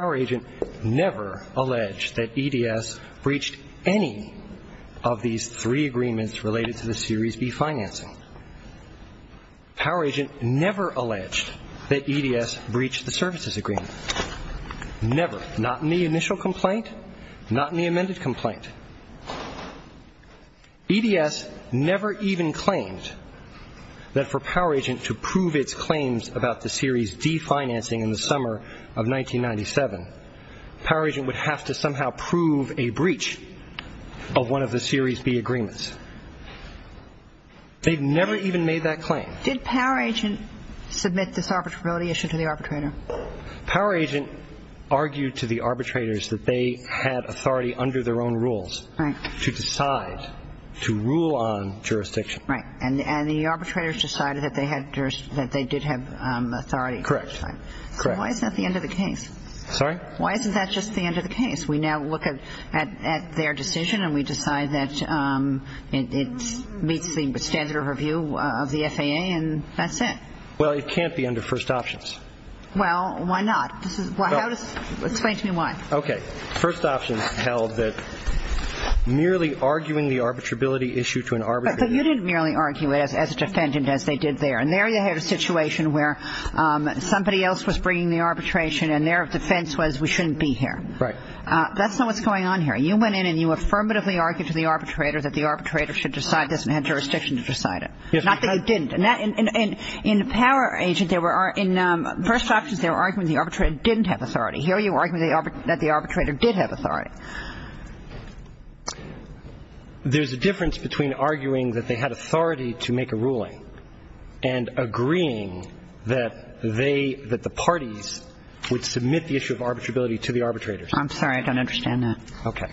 Poweragent never alleged that EDS breached any of these three agreements related to the Series B financing. Poweragent never alleged that EDS breached the services agreement. Never. Not in the initial complaint. Not in the amended complaint. EDS never even claimed that for Poweragent to prove its claims about the Series D financing in the summer of 1997, Poweragent would have to somehow prove a breach of one of the Series B agreements. They've never even made that claim. Did Poweragent submit this arbitrability issue to the arbitrator? Poweragent argued to the arbitrators that they had authority under their own rules to decide to rule on jurisdiction. Right. And the arbitrators decided that they did have authority. Correct. Why isn't that the end of the case? Sorry? Why isn't that just the end of the case? We now look at their decision and we decide that it meets the standard of review of the FAA and that's it. Well, it can't be under first options. Well, why not? Explain to me why. Okay. First options held that merely arguing the arbitrability issue to an arbitrator But you didn't merely argue it as a defendant as they did there. And there you had a situation where somebody else was bringing the arbitration and their defense was we shouldn't be here. Right. That's not what's going on here. You went in and you affirmatively argued to the arbitrator that the arbitrator should decide this and had jurisdiction to decide it. Yes. Not that you didn't. And in Poweragent, in first options, they were arguing the arbitrator didn't have authority. Here you are arguing that the arbitrator did have authority. There's a difference between arguing that they had authority to make a ruling and agreeing that the parties would submit the issue of arbitrability to the arbitrators. I'm sorry. I don't understand that. Okay.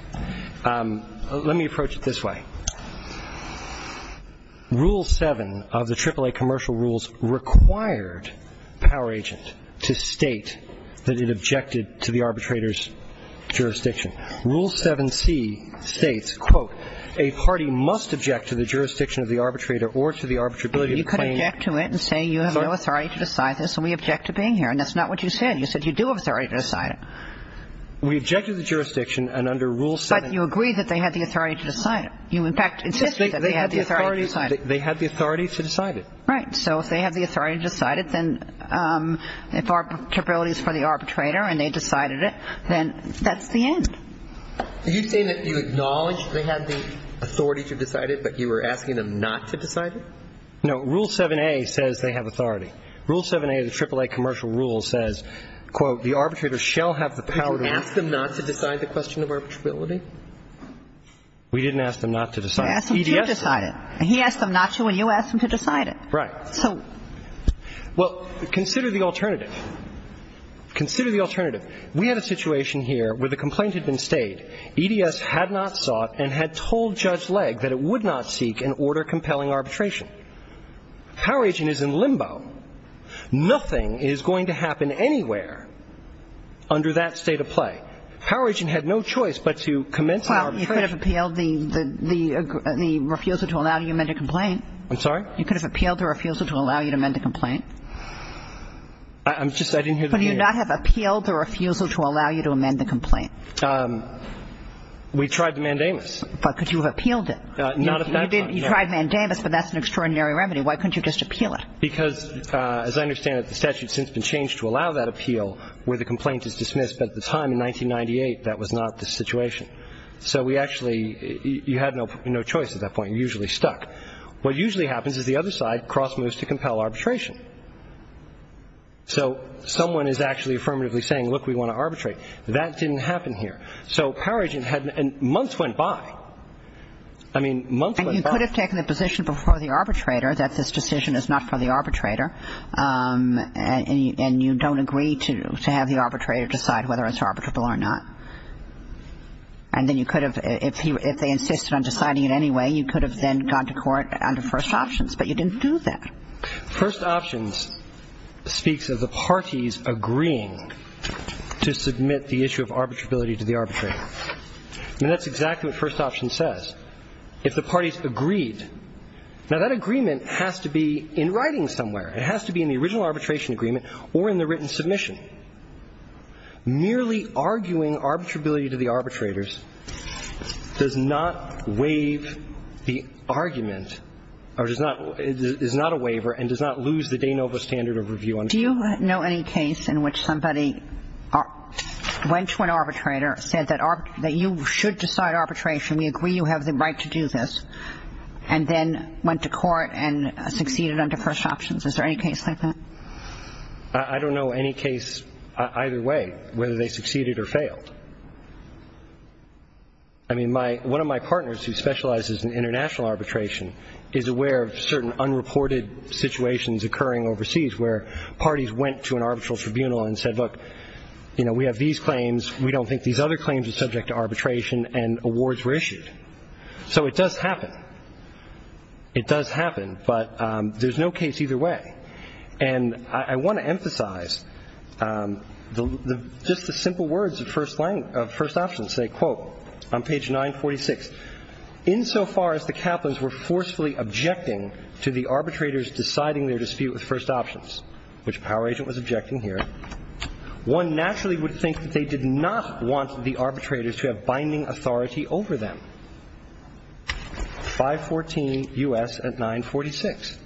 Let me approach it this way. Rule 7 of the AAA commercial rules required Poweragent to state that it objected to the arbitrator's jurisdiction. Rule 7C states, quote, a party must object to the jurisdiction of the arbitrator or to the arbitrability of the plaintiff. You could object to it and say you have no authority to decide this and we object to being here. And that's not what you said. You said you do have authority to decide it. We objected to the jurisdiction and under Rule 7. But you agreed that they had the authority to decide it. You, in fact, insisted that they had the authority to decide it. They had the authority to decide it. Right. So if they have the authority to decide it, then if arbitrability is for the arbitrator and they decided it, then that's the end. Are you saying that you acknowledged they had the authority to decide it, but you were asking them not to decide it? No. Rule 7A says they have authority. Rule 7A of the AAA commercial rules says, quote, the arbitrator shall have the power to decide it. Did you ask them not to decide the question of arbitrability? We didn't ask them not to decide it. I asked them to decide it. And he asked them not to and you asked them to decide it. Right. So – Well, consider the alternative. Consider the alternative. We had a situation here where the complaint had been stayed. EDS had not sought and had told Judge Legg that it would not seek an order compelling arbitration. Power Agent is in limbo. Nothing is going to happen anywhere under that state of play. Power Agent had no choice but to commence an arbitration. Well, you could have appealed the refusal to allow you to amend a complaint. I'm sorry? You could have appealed the refusal to allow you to amend a complaint. I'm just – I didn't hear the appeal. Could you not have appealed the refusal to allow you to amend the complaint? We tried the mandamus. But could you have appealed it? Not at that time, no. You tried mandamus, but that's an extraordinary remedy. Why couldn't you just appeal it? Because, as I understand it, the statute has since been changed to allow that appeal where the complaint is dismissed. But at the time, in 1998, that was not the situation. So we actually – you had no choice at that point. You usually stuck. What usually happens is the other side cross moves to compel arbitration. So someone is actually affirmatively saying, look, we want to arbitrate. That didn't happen here. So Power Agent had – and months went by. I mean, months went by. And you could have taken the position before the arbitrator that this decision is not for the arbitrator and you don't agree to have the arbitrator decide whether it's arbitrable or not. And then you could have – if they insisted on deciding it anyway, you could have then gone to court under first options. But you didn't do that. First options speaks of the parties agreeing to submit the issue of arbitrability to the arbitrator. I mean, that's exactly what first option says. If the parties agreed – now, that agreement has to be in writing somewhere. It has to be in the original arbitration agreement or in the written submission. Merely arguing arbitrability to the arbitrators does not waive the argument or does not – is not a waiver and does not lose the de novo standard of review. Do you know any case in which somebody went to an arbitrator, said that you should decide arbitration, we agree you have the right to do this, and then went to court and succeeded under first options? Is there any case like that? I don't know any case either way, whether they succeeded or failed. I mean, my – one of my partners who specializes in international arbitration is aware of certain unreported situations occurring overseas where parties went to an arbitral tribunal and said, look, you know, we have these claims. We don't think these other claims are subject to arbitration. And awards were issued. So it does happen. It does happen. But there's no case either way. And I want to emphasize just the simple words of first options. Say, quote, on page 946, insofar as the Kaplans were forcefully objecting to the arbitrators deciding their dispute with first options, which Power Agent was objecting here, one naturally would think that they did not want the arbitrators to have binding authority over them. 514 U.S. at 946.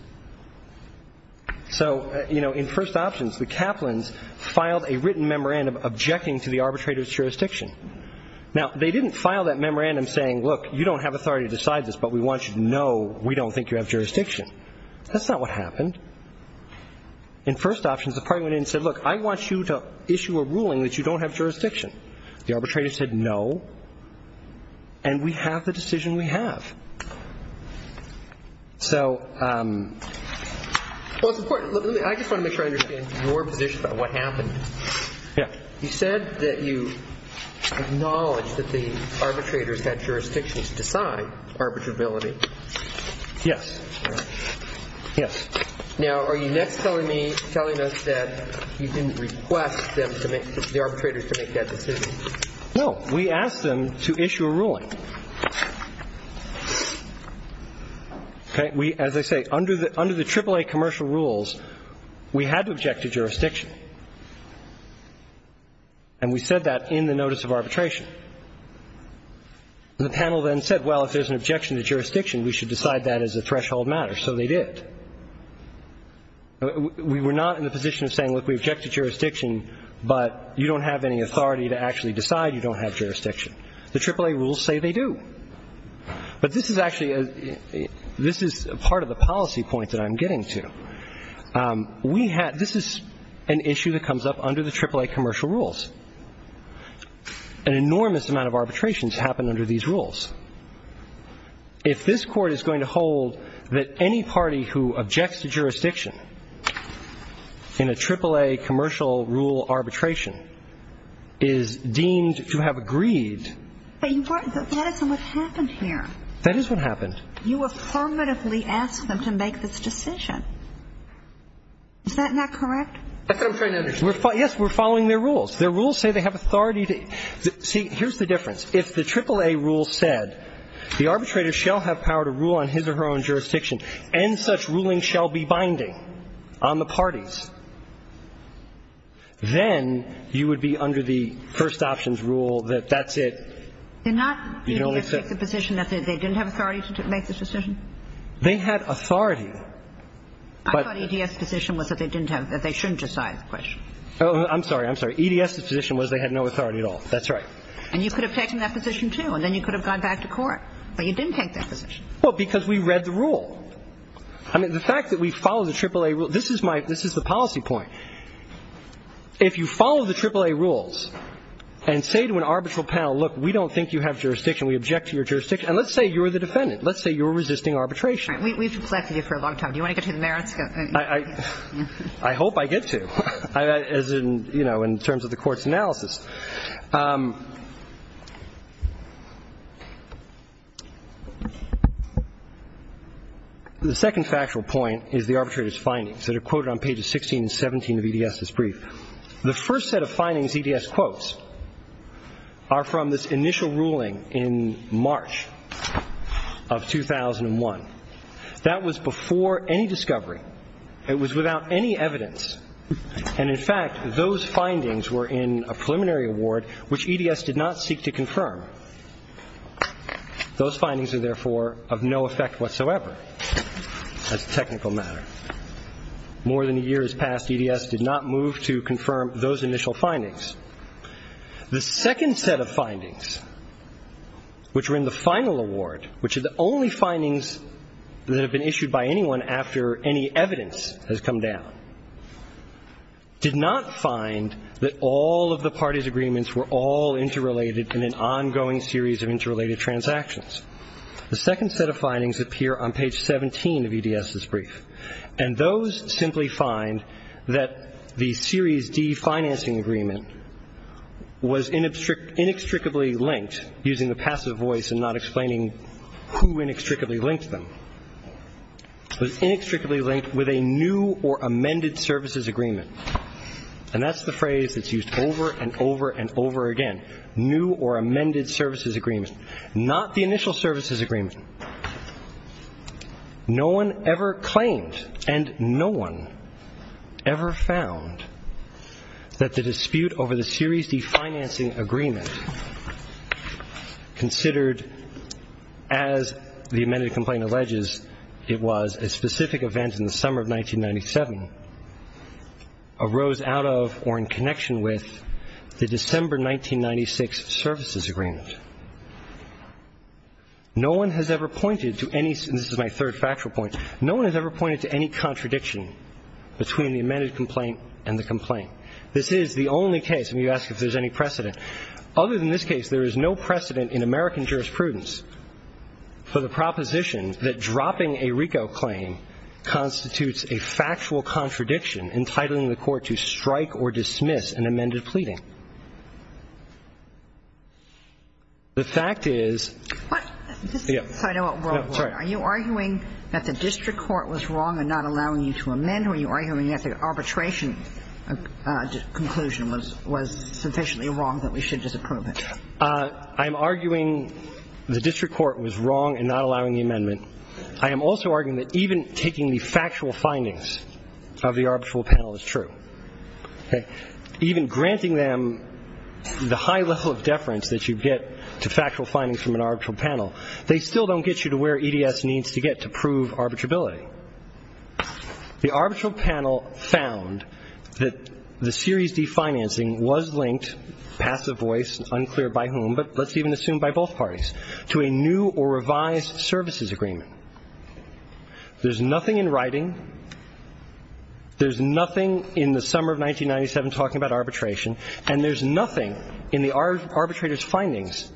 So, you know, in first options, the Kaplans filed a written memorandum objecting to the arbitrators' jurisdiction. Now, they didn't file that memorandum saying, look, you don't have authority to decide this, but we want you to know we don't think you have jurisdiction. That's not what happened. In first options, the party went in and said, look, I want you to issue a ruling that you don't have jurisdiction. The arbitrators said no, and we have the decision we have. So, well, it's important. I just want to make sure I understand your position about what happened. Yeah. You said that you acknowledge that the arbitrators had jurisdiction to decide arbitrability. Yes. Yes. Now, are you next telling me, telling us that you didn't request them to make, the arbitrators to make that decision? No. We asked them to issue a ruling. Okay. As I say, under the AAA commercial rules, we had to object to jurisdiction, and we said that in the notice of arbitration. The panel then said, well, if there's an objection to jurisdiction, we should decide that as a threshold matter. So they did. We were not in the position of saying, look, we object to jurisdiction, but you don't have any authority to actually decide you don't have jurisdiction. The AAA rules say they do. But this is actually a, this is part of the policy point that I'm getting to. We had, this is an issue that comes up under the AAA commercial rules. An enormous amount of arbitrations happen under these rules. If this Court is going to hold that any party who objects to jurisdiction in a AAA commercial rule arbitration is deemed to have agreed. But that isn't what happened here. That is what happened. You affirmatively asked them to make this decision. Is that not correct? That's what I'm trying to understand. Yes, we're following their rules. Their rules say they have authority to. See, here's the difference. And such ruling shall be binding on the parties. Then you would be under the first options rule that that's it. Did not EDS take the position that they didn't have authority to make this decision? They had authority. I thought EDS's position was that they didn't have, that they shouldn't decide the question. I'm sorry, I'm sorry. EDS's position was they had no authority at all. That's right. And you could have taken that position, too, and then you could have gone back to court. But you didn't take that position. Well, because we read the rule. I mean, the fact that we follow the AAA rule, this is my, this is the policy point. If you follow the AAA rules and say to an arbitral panel, look, we don't think you have jurisdiction, we object to your jurisdiction, and let's say you're the defendant, let's say you're resisting arbitration. We've neglected you for a long time. Do you want to get to the merits? I hope I get to, as in, you know, in terms of the court's analysis. The second factual point is the arbitrator's findings that are quoted on pages 16 and 17 of EDS's brief. The first set of findings EDS quotes are from this initial ruling in March of 2001. That was before any discovery. It was without any evidence. And, in fact, those findings were in a preliminary award, which EDS did not seek to confirm. Those findings are, therefore, of no effect whatsoever as a technical matter. More than a year has passed. EDS did not move to confirm those initial findings. The second set of findings, which were in the final award, which are the only findings that have been issued by anyone after any evidence has come down, did not find that all of the parties' agreements were all interrelated in an ongoing series of interrelated transactions. The second set of findings appear on page 17 of EDS's brief, and those simply find that the Series D financing agreement was inextricably linked, using the passive voice and not explaining who inextricably linked them, was inextricably linked with a new or amended services agreement. And that's the phrase that's used over and over and over again, new or amended services agreement, not the initial services agreement. No one ever claimed and no one ever found that the dispute over the Series D financing agreement, considered as the amended complaint alleges it was a specific event in the summer of 1997, arose out of or in connection with the December 1996 services agreement. No one has ever pointed to any, and this is my third factual point, no one has ever pointed to any contradiction between the amended complaint and the complaint. This is the only case, and you ask if there's any precedent. Other than this case, there is no precedent in American jurisprudence for the proposition that dropping a RICO claim constitutes a factual contradiction entitling the court to strike or dismiss an amended pleading. The fact is — What? Just a side note. Sorry. Are you arguing that the district court was wrong in not allowing you to amend, or are you arguing that the arbitration conclusion was sufficiently wrong that we should disapprove it? I'm arguing the district court was wrong in not allowing the amendment. I am also arguing that even taking the factual findings of the arbitral panel is true. Okay? Even granting them the high level of deference that you get to factual findings from an arbitral panel, they still don't get you to where EDS needs to get to prove arbitrability. The arbitral panel found that the Series D financing was linked, passive voice, unclear by whom, but let's even assume by both parties, to a new or revised services agreement. There's nothing in writing. There's nothing in the summer of 1997 talking about arbitration. And there's nothing in the arbitrator's findings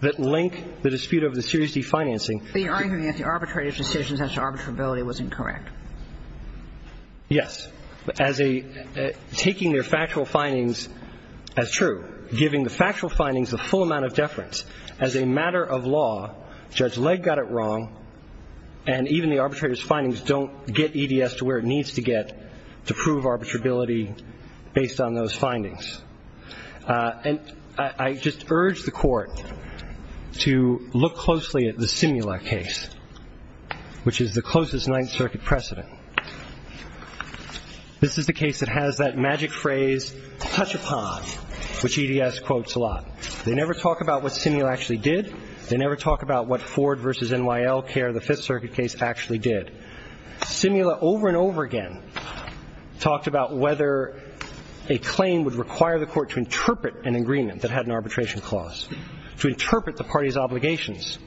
that link the dispute over the Series D financing. But you're arguing that the arbitrator's decision as to arbitrability was incorrect. Yes. As a — taking their factual findings as true, giving the factual findings the full amount of deference, as a matter of law, Judge Legg got it wrong, and even the arbitrator's didn't get EDS to where it needs to get to prove arbitrability based on those findings. And I just urge the Court to look closely at the Simula case, which is the closest Ninth Circuit precedent. This is the case that has that magic phrase, touch upon, which EDS quotes a lot. They never talk about what Simula actually did. They never talk about what Ford v. N.Y.L. Kerr, the Fifth Circuit case, actually did. Simula over and over again talked about whether a claim would require the Court to interpret an agreement that had an arbitration clause, to interpret the party's obligations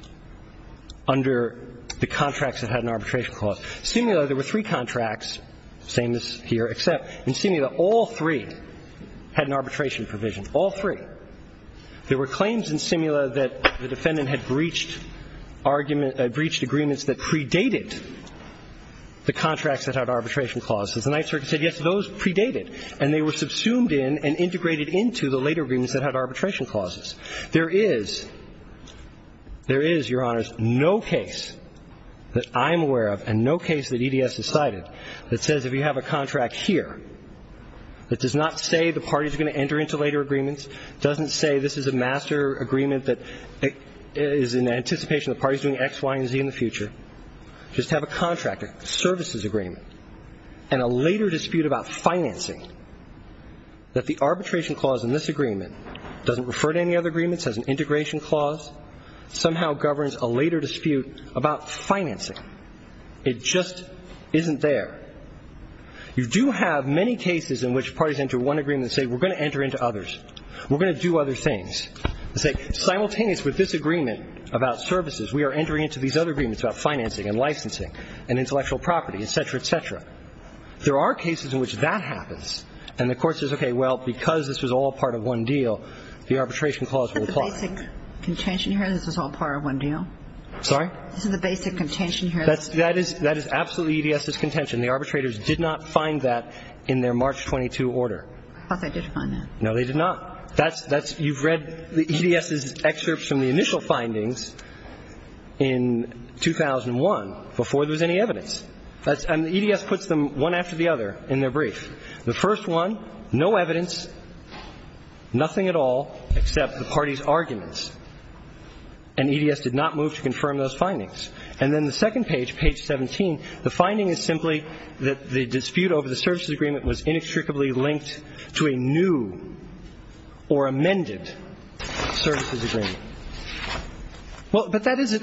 under the contracts that had an arbitration clause. Simula, there were three contracts, same as here, except in Simula all three had an arbitration provision, all three. There were claims in Simula that the defendant had breached agreements that predated the contracts that had arbitration clauses. The Ninth Circuit said, yes, those predated, and they were subsumed in and integrated into the later agreements that had arbitration clauses. There is, there is, Your Honors, no case that I'm aware of and no case that EDS has cited that says if you have a contract here that does not say the party's going to enter into later agreements, doesn't say this is a master agreement that is in anticipation the party's doing X, Y, and Z in the future, just have a contract, a services agreement, and a later dispute about financing, that the arbitration clause in this agreement doesn't refer to any other agreements as an integration clause, somehow governs a later dispute about financing. It just isn't there. You do have many cases in which parties enter one agreement and say we're going to enter into others. We're going to do other things. Simultaneous with this agreement about services, we are entering into these other agreements about financing and licensing and intellectual property, et cetera, et cetera. There are cases in which that happens, and the Court says, okay, well, because this was all part of one deal, the arbitration clause will apply. Is that the basic contention here, this was all part of one deal? Sorry? This is the basic contention here. That is absolutely EDS's contention. The arbitrators did not find that in their March 22 order. I thought they did find that. No, they did not. That's you've read EDS's excerpts from the initial findings in 2001 before there was any evidence. And EDS puts them one after the other in their brief. And EDS did not move to confirm those findings. And then the second page, page 17, the finding is simply that the dispute over the services agreement was inextricably linked to a new or amended services agreement. Well, but that is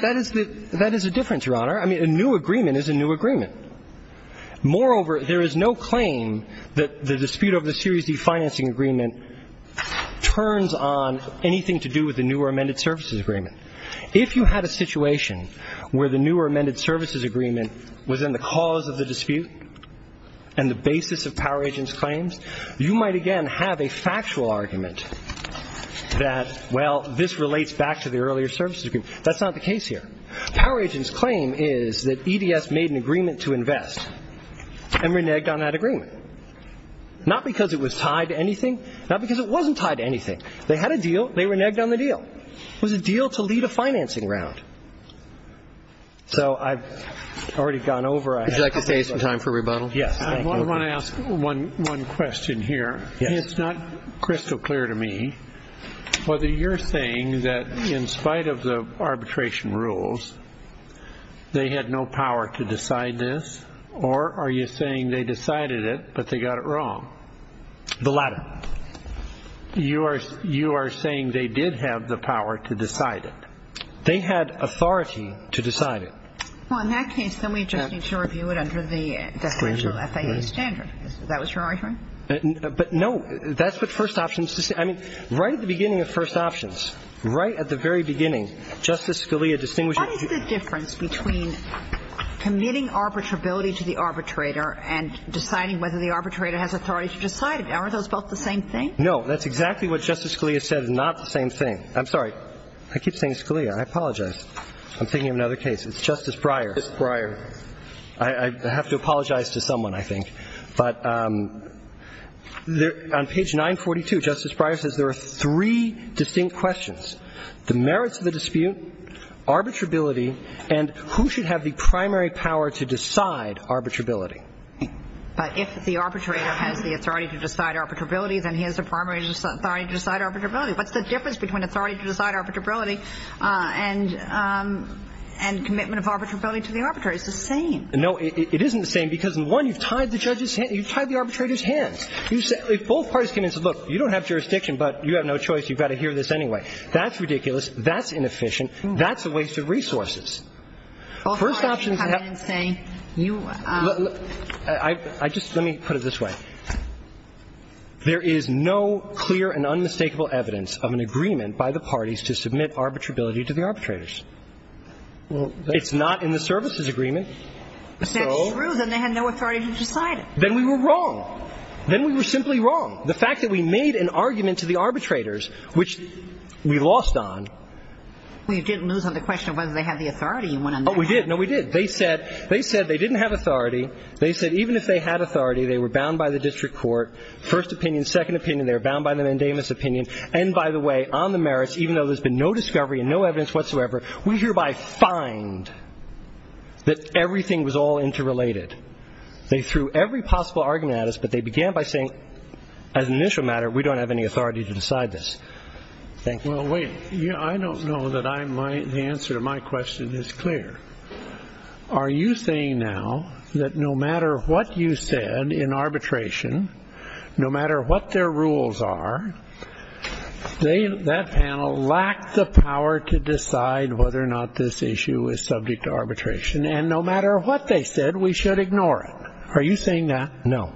a difference, Your Honor. I mean, a new agreement is a new agreement. Moreover, there is no claim that the dispute over the Series D financing agreement turns on anything to do with the new or amended services agreement. If you had a situation where the new or amended services agreement was in the cause of the dispute and the basis of Power Agent's claims, you might, again, have a factual argument that, well, this relates back to the earlier services agreement. That's not the case here. Power Agent's claim is that EDS made an agreement to invest and reneged on that agreement, not because it was tied to anything, not because it wasn't tied to anything. They had a deal. They reneged on the deal. It was a deal to lead a financing round. So I've already gone over. Would you like to take some time for rebuttal? Yes. I want to ask one question here. It's not crystal clear to me whether you're saying that in spite of the arbitration rules, they had no power to decide this, or are you saying they decided it, but they got it wrong? The latter. You are saying they did have the power to decide it. They had authority to decide it. Well, in that case, then we just need to review it under the definitional FIA standard. That was your argument? But, no, that's what first options to say. I mean, right at the beginning of first options, right at the very beginning, What is the difference between committing arbitrability to the arbitrator and deciding whether the arbitrator has authority to decide it? Aren't those both the same thing? No. That's exactly what Justice Scalia said is not the same thing. I'm sorry. I keep saying Scalia. I apologize. I'm thinking of another case. It's Justice Breyer. Justice Breyer. I have to apologize to someone, I think. But on page 942, Justice Breyer says there are three distinct questions. The merits of the dispute, arbitrability, and who should have the primary power to decide arbitrability. But if the arbitrator has the authority to decide arbitrability, then he has the primary authority to decide arbitrability. What's the difference between authority to decide arbitrability and commitment of arbitrability to the arbitrator? It's the same. No, it isn't the same because, in one, you've tied the arbitrator's hands. If both parties came in and said, look, you don't have jurisdiction, but you have no choice. You've got to hear this anyway. That's ridiculous. That's inefficient. That's a waste of resources. First option is to have to have. Well, why did you come in and say you are? I just let me put it this way. There is no clear and unmistakable evidence of an agreement by the parties to submit arbitrability to the arbitrators. It's not in the services agreement. If that's true, then they had no authority to decide it. Then we were wrong. Then we were simply wrong. The fact that we made an argument to the arbitrators, which we lost on. Well, you didn't lose on the question of whether they had the authority. Oh, we did. No, we did. They said they didn't have authority. They said even if they had authority, they were bound by the district court. First opinion, second opinion, they were bound by the mandamus opinion. And, by the way, on the merits, even though there's been no discovery and no evidence whatsoever, we hereby find that everything was all interrelated. They threw every possible argument at us, but they began by saying, as an initial matter, we don't have any authority to decide this. Thank you. Well, wait. I don't know that the answer to my question is clear. Are you saying now that no matter what you said in arbitration, no matter what their rules are, that panel lacked the power to decide whether or not this issue is subject to arbitration, and no matter what they said, we should ignore it? Are you saying that? No.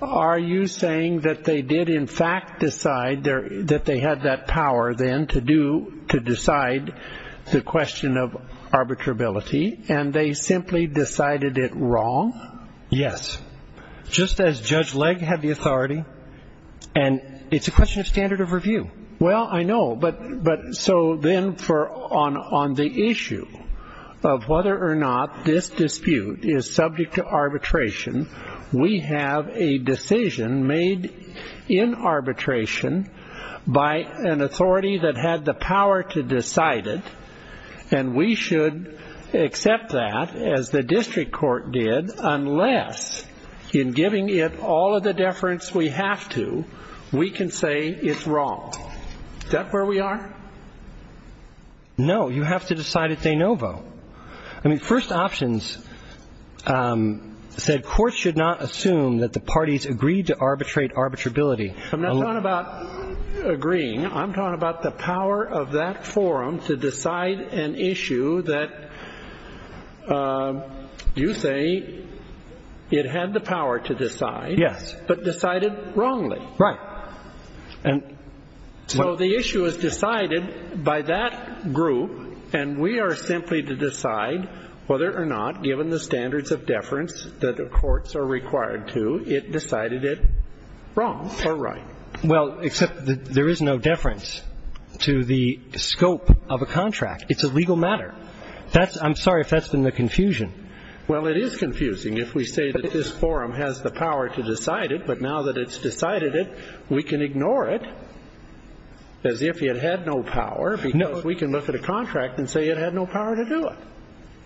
Are you saying that they did in fact decide that they had that power then to decide the question of arbitrability, and they simply decided it wrong? Yes. Just as Judge Legg had the authority. And it's a question of standard of review. Well, I know. So then on the issue of whether or not this dispute is subject to arbitration, we have a decision made in arbitration by an authority that had the power to decide it, and we should accept that, as the district court did, unless in giving it all of the deference we have to, we can say it's wrong. Is that where we are? No. You have to decide it's a no vote. I mean, first options said courts should not assume that the parties agreed to arbitrate arbitrability. I'm not talking about agreeing. I'm talking about the power of that forum to decide an issue that you say it had the power to decide. Yes. But decided wrongly. Right. So the issue is decided by that group, and we are simply to decide whether or not, given the standards of deference that the courts are required to, it decided it wrong or right. Well, except there is no deference to the scope of a contract. It's a legal matter. I'm sorry if that's been the confusion. Well, it is confusing if we say that this forum has the power to decide it, but now that it's decided it, we can ignore it as if it had no power, because we can look at a contract and say it had no power to do it.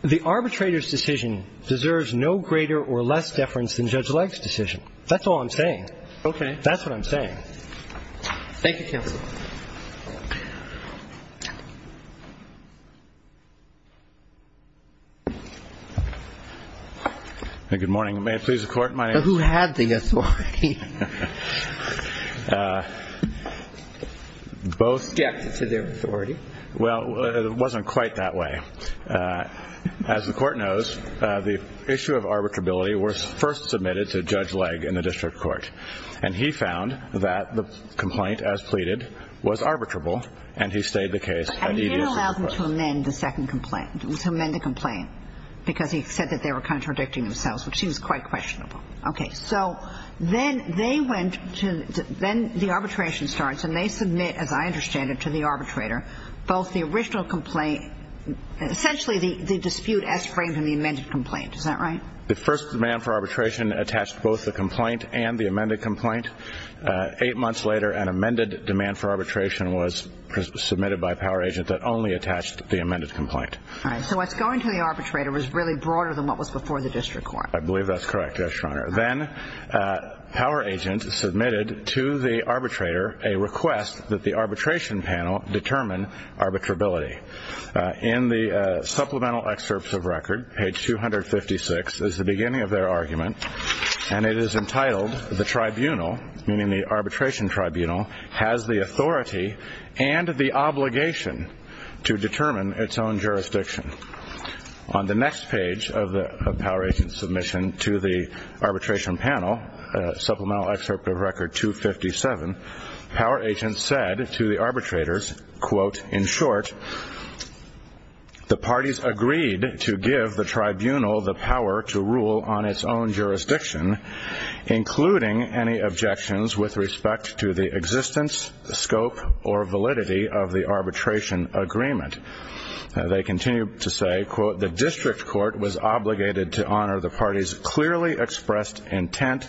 The arbitrator's decision deserves no greater or less deference than Judge Legge's decision. That's all I'm saying. Okay. That's what I'm saying. Thank you, counsel. Good morning. May it please the Court, my name is. So who had the authority? Both. Yeah. To their authority. Well, it wasn't quite that way. As the Court knows, the issue of arbitrability was first submitted to Judge Legge in the district court, and he found that the complaint, as pleaded, was arbitrable, and he stayed the case. And he didn't allow them to amend the second complaint. Because he said that they were contradicting themselves, which seems quite questionable. Okay. So then they went to the arbitration starts, and they submit, as I understand it, to the arbitrator, both the original complaint, essentially the dispute as framed in the amended complaint. Is that right? The first demand for arbitration attached both the complaint and the amended complaint. Eight months later, an amended demand for arbitration was submitted by a power agent that only attached the amended complaint. All right. So what's going to the arbitrator was really broader than what was before the district court. I believe that's correct, Your Honor. Then power agent submitted to the arbitrator a request that the arbitration panel determine arbitrability. In the supplemental excerpts of record, page 256, is the beginning of their argument, and it is entitled, the tribunal, meaning the arbitration tribunal, has the authority and the obligation to determine its own jurisdiction. On the next page of the power agent's submission to the arbitration panel, supplemental excerpt of record 257, power agent said to the arbitrators, quote, in short, the parties agreed to give the tribunal the power to rule on its own jurisdiction, including any objections with respect to the existence, scope, or validity of the arbitration agreement. They continue to say, quote, the district court was obligated to honor the party's clearly expressed intent.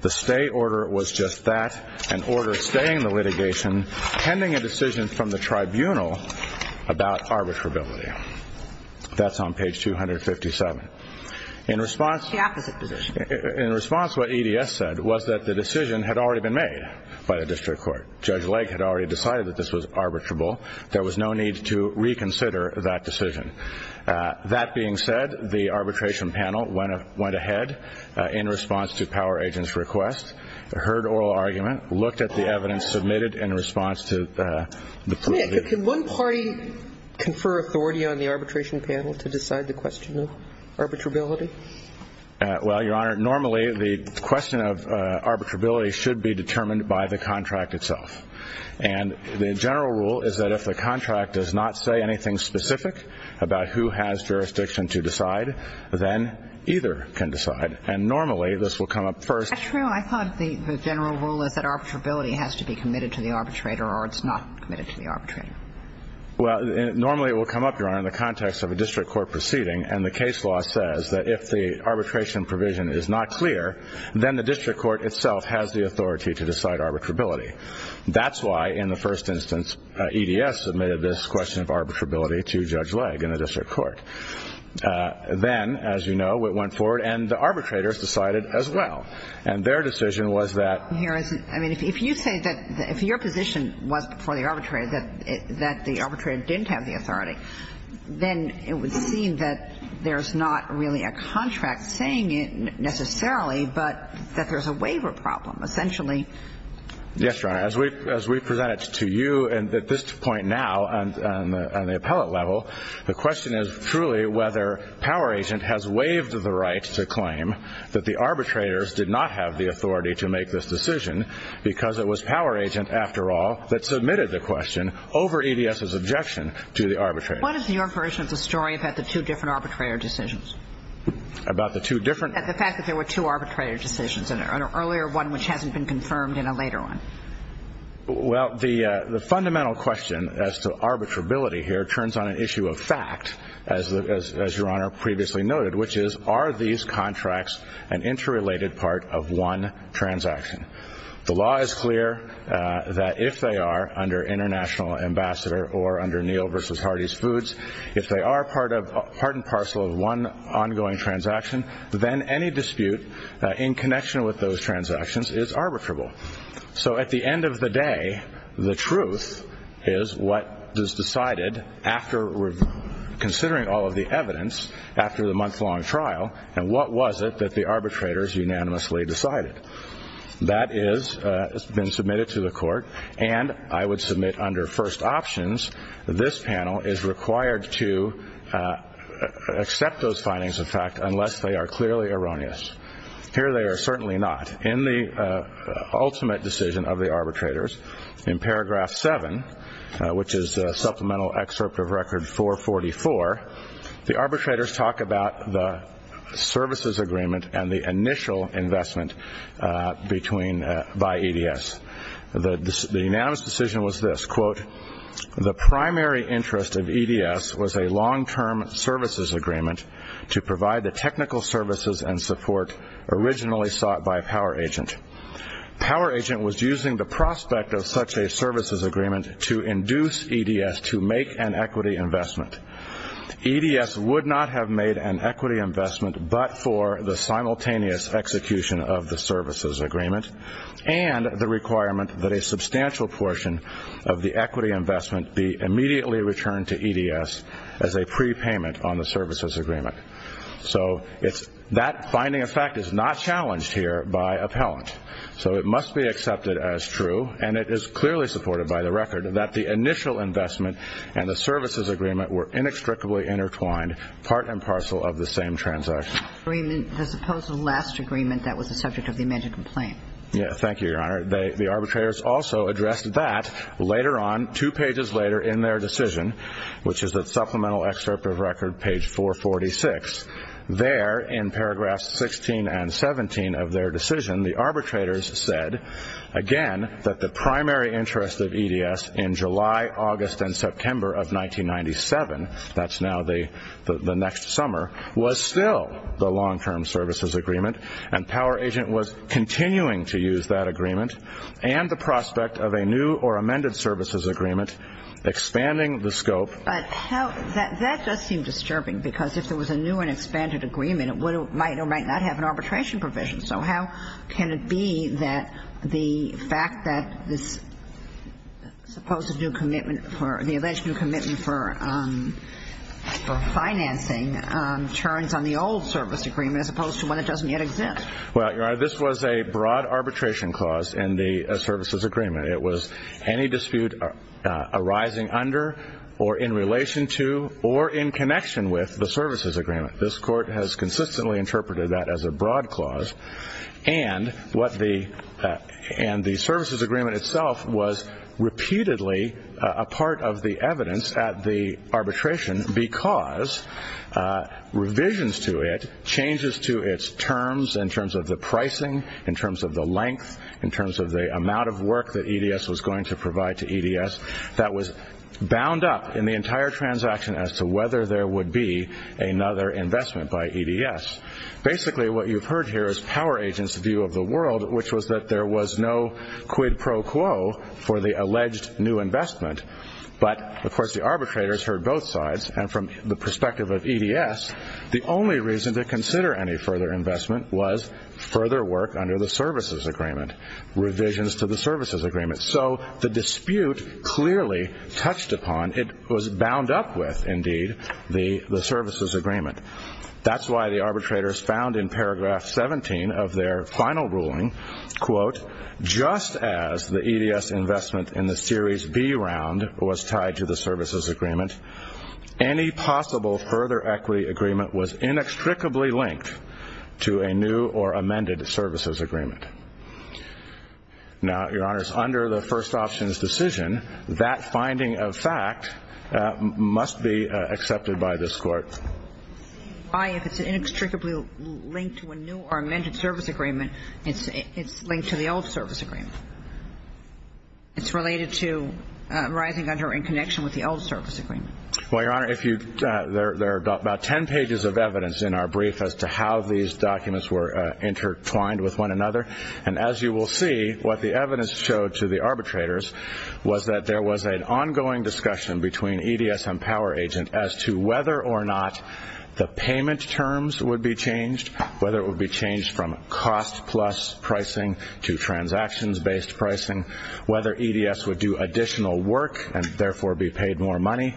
The stay order was just that, an order staying the litigation, pending a decision from the tribunal about arbitrability. That's on page 257. In response, what EDS said was that the decision had already been made by the district court. Judge Lake had already decided that this was arbitrable. There was no need to reconsider that decision. That being said, the arbitration panel went ahead in response to power agent's request, heard oral argument, looked at the evidence submitted in response to the plea. Can one party confer authority on the arbitration panel to decide the question of arbitrability? Well, Your Honor, normally the question of arbitrability should be determined by the contract itself. And the general rule is that if the contract does not say anything specific about who has jurisdiction to decide, then either can decide. And normally this will come up first. That's true. I thought the general rule is that arbitrability has to be committed to the arbitrator or it's not committed to the arbitrator. Well, normally it will come up, Your Honor, in the context of a district court proceeding, and the case law says that if the arbitration provision is not clear, then the district court itself has the authority to decide arbitrability. That's why in the first instance EDS submitted this question of arbitrability to Judge Lake in the district court. Then, as you know, it went forward and the arbitrators decided as well. And their decision was that ---- Your Honor, I mean, if you say that if your position was before the arbitrator that the arbitrator didn't have the authority, then it would seem that there's not really a contract saying it necessarily, but that there's a waiver problem. Essentially ---- Yes, Your Honor. As we presented to you at this point now on the appellate level, the question is truly whether Power Agent has waived the right to claim that the arbitrators did not have the authority to make this decision because it was Power Agent, after all, that submitted the question over EDS's objection to the arbitrator. What is your version of the story about the two different arbitrator decisions? About the two different ---- The fact that there were two arbitrator decisions in there, an earlier one which hasn't been confirmed and a later one. Well, the fundamental question as to arbitrability here turns on an issue of fact, as Your Honor previously noted, which is are these contracts an interrelated part of one transaction? The law is clear that if they are under international ambassador or under Neal v. Hardy's Foods, if they are part and parcel of one ongoing transaction, then any dispute in connection with those transactions is arbitrable. So at the end of the day, the truth is what is decided after considering all of the evidence after the month-long trial and what was it that the arbitrators unanimously decided. That has been submitted to the court, and I would submit under first options, this panel is required to accept those findings of fact unless they are clearly erroneous. Here they are certainly not. In the ultimate decision of the arbitrators, in paragraph 7, which is supplemental excerpt of record 444, the arbitrators talk about the services agreement and the initial investment by EDS. The unanimous decision was this, quote, The primary interest of EDS was a long-term services agreement to provide the technical services and support originally sought by Power Agent. Power Agent was using the prospect of such a services agreement to induce EDS to make an equity investment. EDS would not have made an equity investment but for the simultaneous execution of the services agreement and the requirement that a substantial portion of the equity investment be immediately returned to EDS as a prepayment on the services agreement. So that finding of fact is not challenged here by appellant. So it must be accepted as true, and it is clearly supported by the record, that the initial investment and the services agreement were inextricably intertwined, part and parcel of the same transaction. The supposed last agreement that was the subject of the amended complaint. Thank you, Your Honor. The arbitrators also addressed that later on, two pages later in their decision, which is the supplemental excerpt of record page 446. There, in paragraphs 16 and 17 of their decision, the arbitrators said, again, that the primary interest of EDS in July, August, and September of 1997, that's now the next summer, was still the long-term services agreement, and Power Agent was continuing to use that agreement and the prospect of a new or amended services agreement, expanding the scope. But that does seem disturbing because if there was a new and expanded agreement, it might or might not have an arbitration provision. So how can it be that the fact that this supposed new commitment for the alleged new commitment for financing turns on the old service agreement as opposed to one that doesn't yet exist? Well, Your Honor, this was a broad arbitration clause in the services agreement. It was any dispute arising under or in relation to or in connection with the services agreement. This Court has consistently interpreted that as a broad clause, and the services agreement itself was repeatedly a part of the evidence at the arbitration because revisions to it, changes to its terms in terms of the pricing, in terms of the length, in terms of the amount of work that EDS was going to provide to EDS, that was bound up in the entire transaction as to whether there would be another investment by EDS. Basically, what you've heard here is Power Agent's view of the world, which was that there was no quid pro quo for the alleged new investment. But, of course, the arbitrators heard both sides, and from the perspective of EDS, the only reason to consider any further investment was further work under the services agreement, revisions to the services agreement. So the dispute clearly touched upon, it was bound up with, indeed, the services agreement. That's why the arbitrators found in paragraph 17 of their final ruling, quote, just as the EDS investment in the Series B round was tied to the services agreement, any possible further equity agreement was inextricably linked to a new or amended services agreement. Now, Your Honors, under the first options decision, that finding of fact must be accepted by this Court. Why, if it's inextricably linked to a new or amended service agreement, it's linked to the old service agreement? It's related to rising under in connection with the old service agreement. Well, Your Honor, there are about ten pages of evidence in our brief as to how these documents were intertwined with one another. And as you will see, what the evidence showed to the arbitrators was that there was an ongoing discussion between EDS and Power Agent as to whether or not the payment terms would be changed, whether it would be changed from cost plus pricing to transactions-based pricing, whether EDS would do additional work and therefore be paid more money.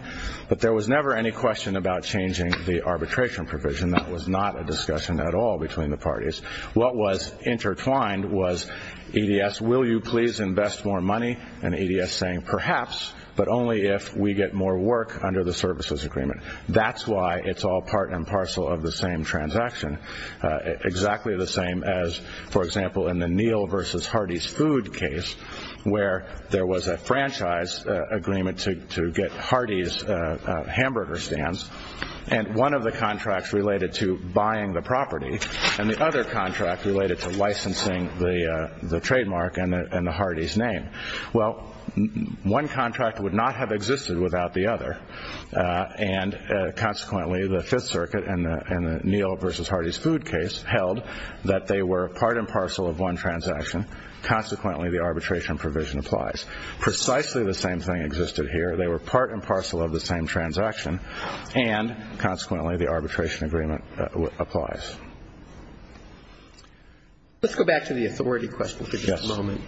But there was never any question about changing the arbitration provision. That was not a discussion at all between the parties. What was intertwined was EDS, will you please invest more money? And EDS saying, perhaps, but only if we get more work under the services agreement. That's why it's all part and parcel of the same transaction, exactly the same as, for example, in the Neal v. Hardy's food case where there was a franchise agreement to get Hardy's hamburger stands and one of the contracts related to buying the property. And the other contract related to licensing the trademark and the Hardy's name. Well, one contract would not have existed without the other. And consequently, the Fifth Circuit in the Neal v. Hardy's food case held that they were part and parcel of one transaction. Consequently, the arbitration provision applies. Precisely the same thing existed here. They were part and parcel of the same transaction, and consequently the arbitration agreement applies. Let's go back to the authority question for just a moment.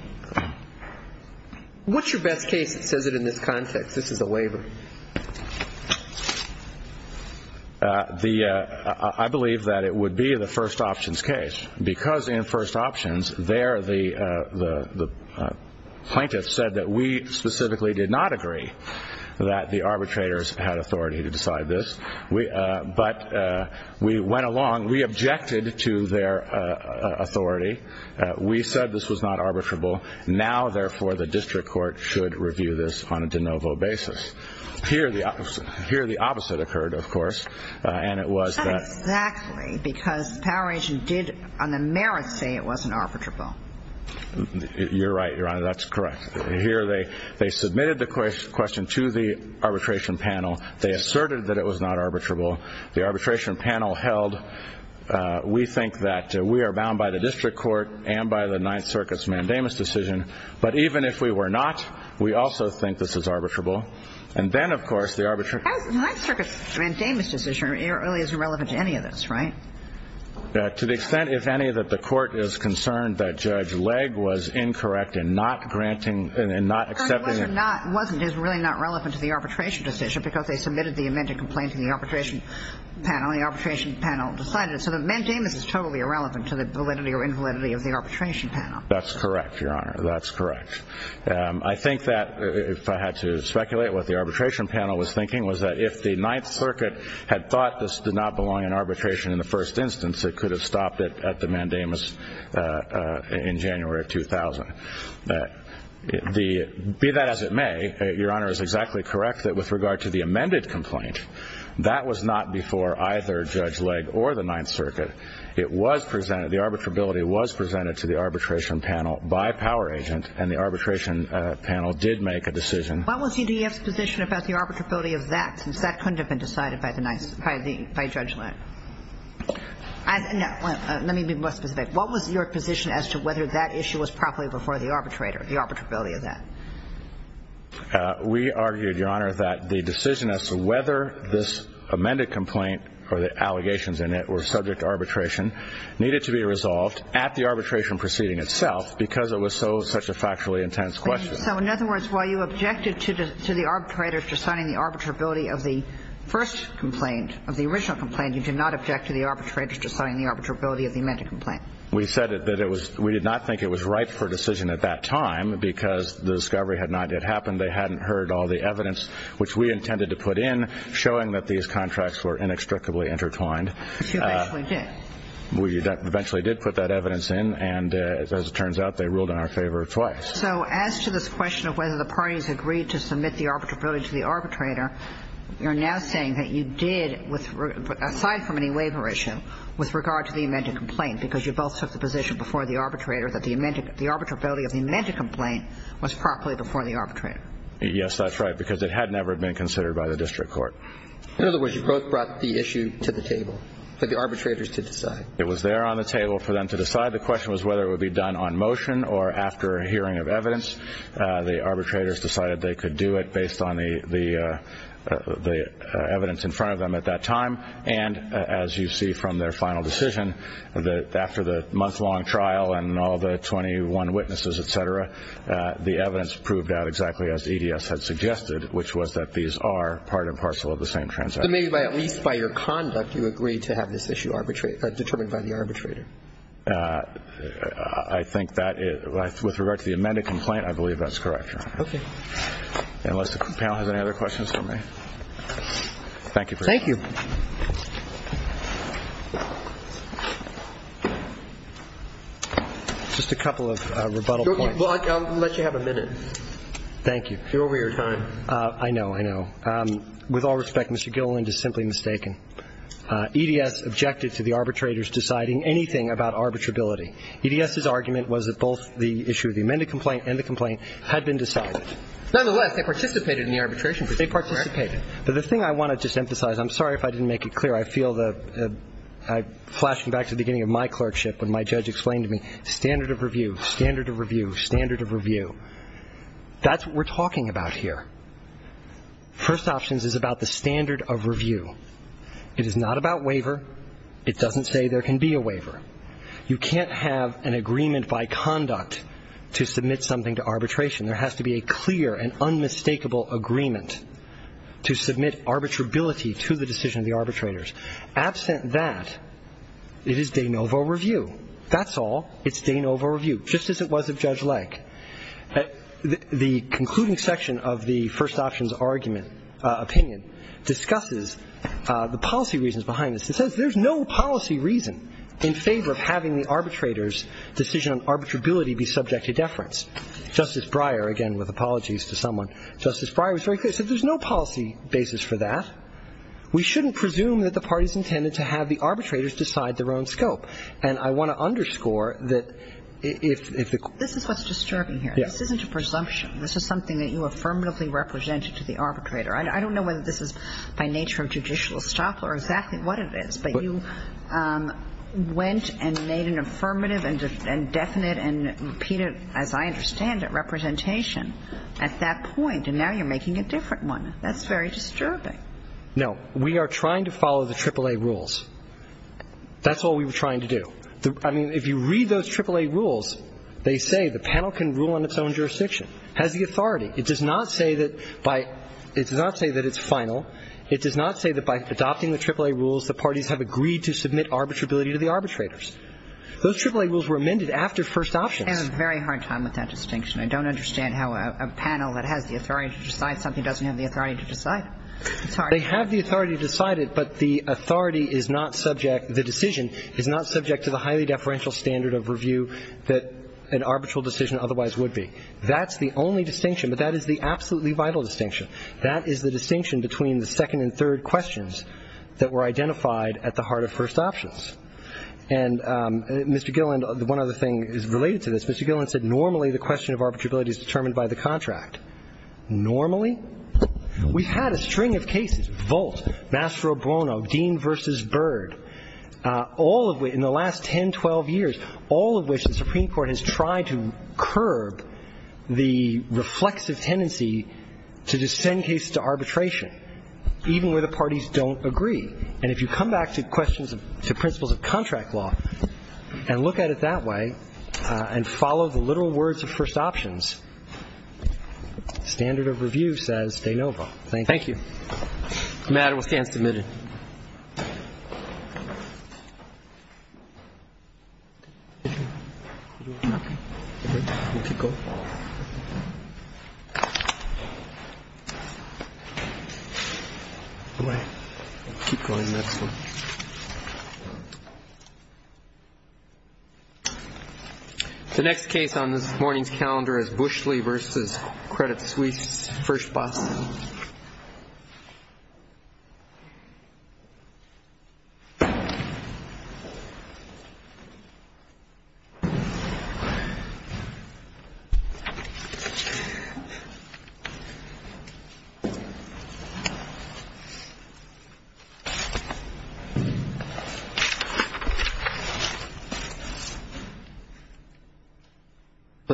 What's your best case that says it in this context? This is a waiver. I believe that it would be the first options case because in first options there the plaintiff said that we specifically did not agree that the arbitrators had authority to decide this. But we went along, we objected to their authority. We said this was not arbitrable. Now, therefore, the district court should review this on a de novo basis. Here the opposite occurred, of course, and it was that Exactly, because the power agent did on the merits say it wasn't arbitrable. You're right, Your Honor, that's correct. Here they submitted the question to the arbitration panel. They asserted that it was not arbitrable. The arbitration panel held we think that we are bound by the district court and by the Ninth Circuit's mandamus decision, but even if we were not, we also think this is arbitrable. And then, of course, the arbitrator The Ninth Circuit's mandamus decision really isn't relevant to any of this, right? To the extent, if any, that the court is concerned that Judge Legge was incorrect in not granting and not accepting Whether it was or wasn't is really not relevant to the arbitration decision because they submitted the amended complaint to the arbitration panel. The arbitration panel decided it. So the mandamus is totally irrelevant to the validity or invalidity of the arbitration panel. That's correct, Your Honor. That's correct. I think that, if I had to speculate what the arbitration panel was thinking, was that if the Ninth Circuit had thought this did not belong in arbitration in the first instance, it could have stopped it at the mandamus in January of 2000. Be that as it may, Your Honor is exactly correct that with regard to the amended complaint, that was not before either Judge Legge or the Ninth Circuit. It was presented, the arbitrability was presented to the arbitration panel by Power Agent and the arbitration panel did make a decision. What was CDF's position about the arbitrability of that since that couldn't have been decided by Judge Legge? Let me be more specific. What was your position as to whether that issue was properly before the arbitrator, the arbitrability of that? We argued, Your Honor, that the decision as to whether this amended complaint or the allegations in it were subject to arbitration needed to be resolved at the arbitration proceeding itself because it was such a factually intense question. So, in other words, while you objected to the arbitrator deciding the arbitrability of the first complaint, of the original complaint, you did not object to the arbitrator deciding the arbitrability of the amended complaint? We said that we did not think it was right for a decision at that time because the discovery had not yet happened. They hadn't heard all the evidence which we intended to put in showing that these contracts were inextricably intertwined. But you eventually did. We eventually did put that evidence in and, as it turns out, they ruled in our favor twice. So as to this question of whether the parties agreed to submit the arbitrability to the arbitrator, you're now saying that you did, aside from an e-waiver issue, with regard to the amended complaint because you both took the position before the arbitrator that the arbitrability of the amended complaint was properly before the arbitrator? Yes, that's right, because it had never been considered by the district court. In other words, you both brought the issue to the table for the arbitrators to decide. It was there on the table for them to decide. The question was whether it would be done on motion or after a hearing of evidence. The arbitrators decided they could do it based on the evidence in front of them at that time. And as you see from their final decision, after the month-long trial and all the 21 witnesses, et cetera, the evidence proved out exactly as EDS had suggested, which was that these are part and parcel of the same transaction. So maybe by at least by your conduct you agreed to have this issue determined by the arbitrator. I think that, with regard to the amended complaint, I believe that's correct, Your Honor. Okay. Thank you for your time. Thank you. Just a couple of rebuttal points. I'll let you have a minute. Thank you. You're over your time. I know, I know. With all respect, Mr. Gilliland is simply mistaken. EDS objected to the arbitrators deciding anything about arbitrability. EDS's argument was that both the issue of the amended complaint and the complaint had been decided. Nonetheless, they participated in the arbitration. They participated. Okay. But the thing I want to just emphasize, I'm sorry if I didn't make it clear. I feel that I'm flashing back to the beginning of my clerkship when my judge explained to me standard of review, standard of review, standard of review. That's what we're talking about here. First Options is about the standard of review. It is not about waiver. It doesn't say there can be a waiver. You can't have an agreement by conduct to submit something to arbitration. There has to be a clear and unmistakable agreement to submit arbitrability to the decision of the arbitrators. Absent that, it is de novo review. That's all. It's de novo review, just as it was of Judge Lake. The concluding section of the First Options argument, opinion, discusses the policy reasons behind this. It says there's no policy reason in favor of having the arbitrators' decision on arbitrability be subject to deference. Justice Breyer, again with apologies to someone, Justice Breyer was very clear. He said there's no policy basis for that. We shouldn't presume that the parties intended to have the arbitrators decide their own scope. And I want to underscore that if the court ---- This is what's disturbing here. Yes. This isn't a presumption. This is something that you affirmatively represented to the arbitrator. I don't know whether this is by nature of judicial estoppel or exactly what it is, but you went and made an affirmative and definite and repeated, as I understand it, representation at that point, and now you're making a different one. That's very disturbing. No. We are trying to follow the AAA rules. That's all we were trying to do. I mean, if you read those AAA rules, they say the panel can rule on its own jurisdiction, has the authority. It does not say that by ---- it does not say that it's final. It does not say that by adopting the AAA rules, the parties have agreed to submit arbitrability to the arbitrators. Those AAA rules were amended after first options. I'm having a very hard time with that distinction. I don't understand how a panel that has the authority to decide something doesn't have the authority to decide. It's hard. They have the authority to decide it, but the authority is not subject ---- the decision is not subject to the highly deferential standard of review that an arbitral decision otherwise would be. That's the only distinction, but that is the absolutely vital distinction. That is the distinction between the second and third questions that were identified at the heart of first options. And Mr. Gilland, one other thing is related to this. Mr. Gilland said normally the question of arbitrability is determined by the contract. Normally? We've had a string of cases, Volt, Mastro Bono, Dean versus Bird, all of which in the last 10, 12 years, all of which the Supreme Court has tried to curb the reflexive ability to just send cases to arbitration, even where the parties don't agree. And if you come back to questions of ---- to principles of contract law and look at it that way and follow the literal words of first options, standard of review says de novo. Thank you. Thank you. The matter will stand submitted. Okay. We'll keep going. Keep going the next one. The next case on this morning's calendar is Bushley versus Credit Suisse first of all. Okay.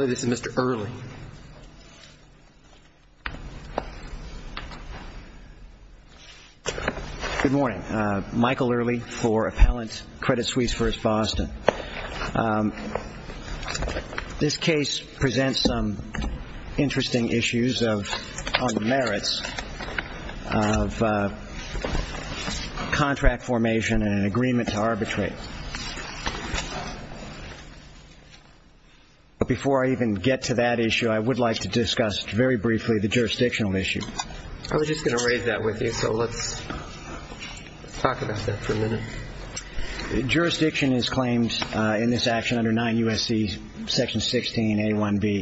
This is Mr. Early. Good morning. Good morning. Michael Early for appellant Credit Suisse first Boston. This case presents some interesting issues on the merits of contract formation and agreement to arbitrate. Before I even get to that issue, I would like to discuss very briefly the jurisdictional issue. I was just going to raise that with you, so let's talk about that for a minute. Jurisdiction is claimed in this action under 9 U.S.C. section 16A1B.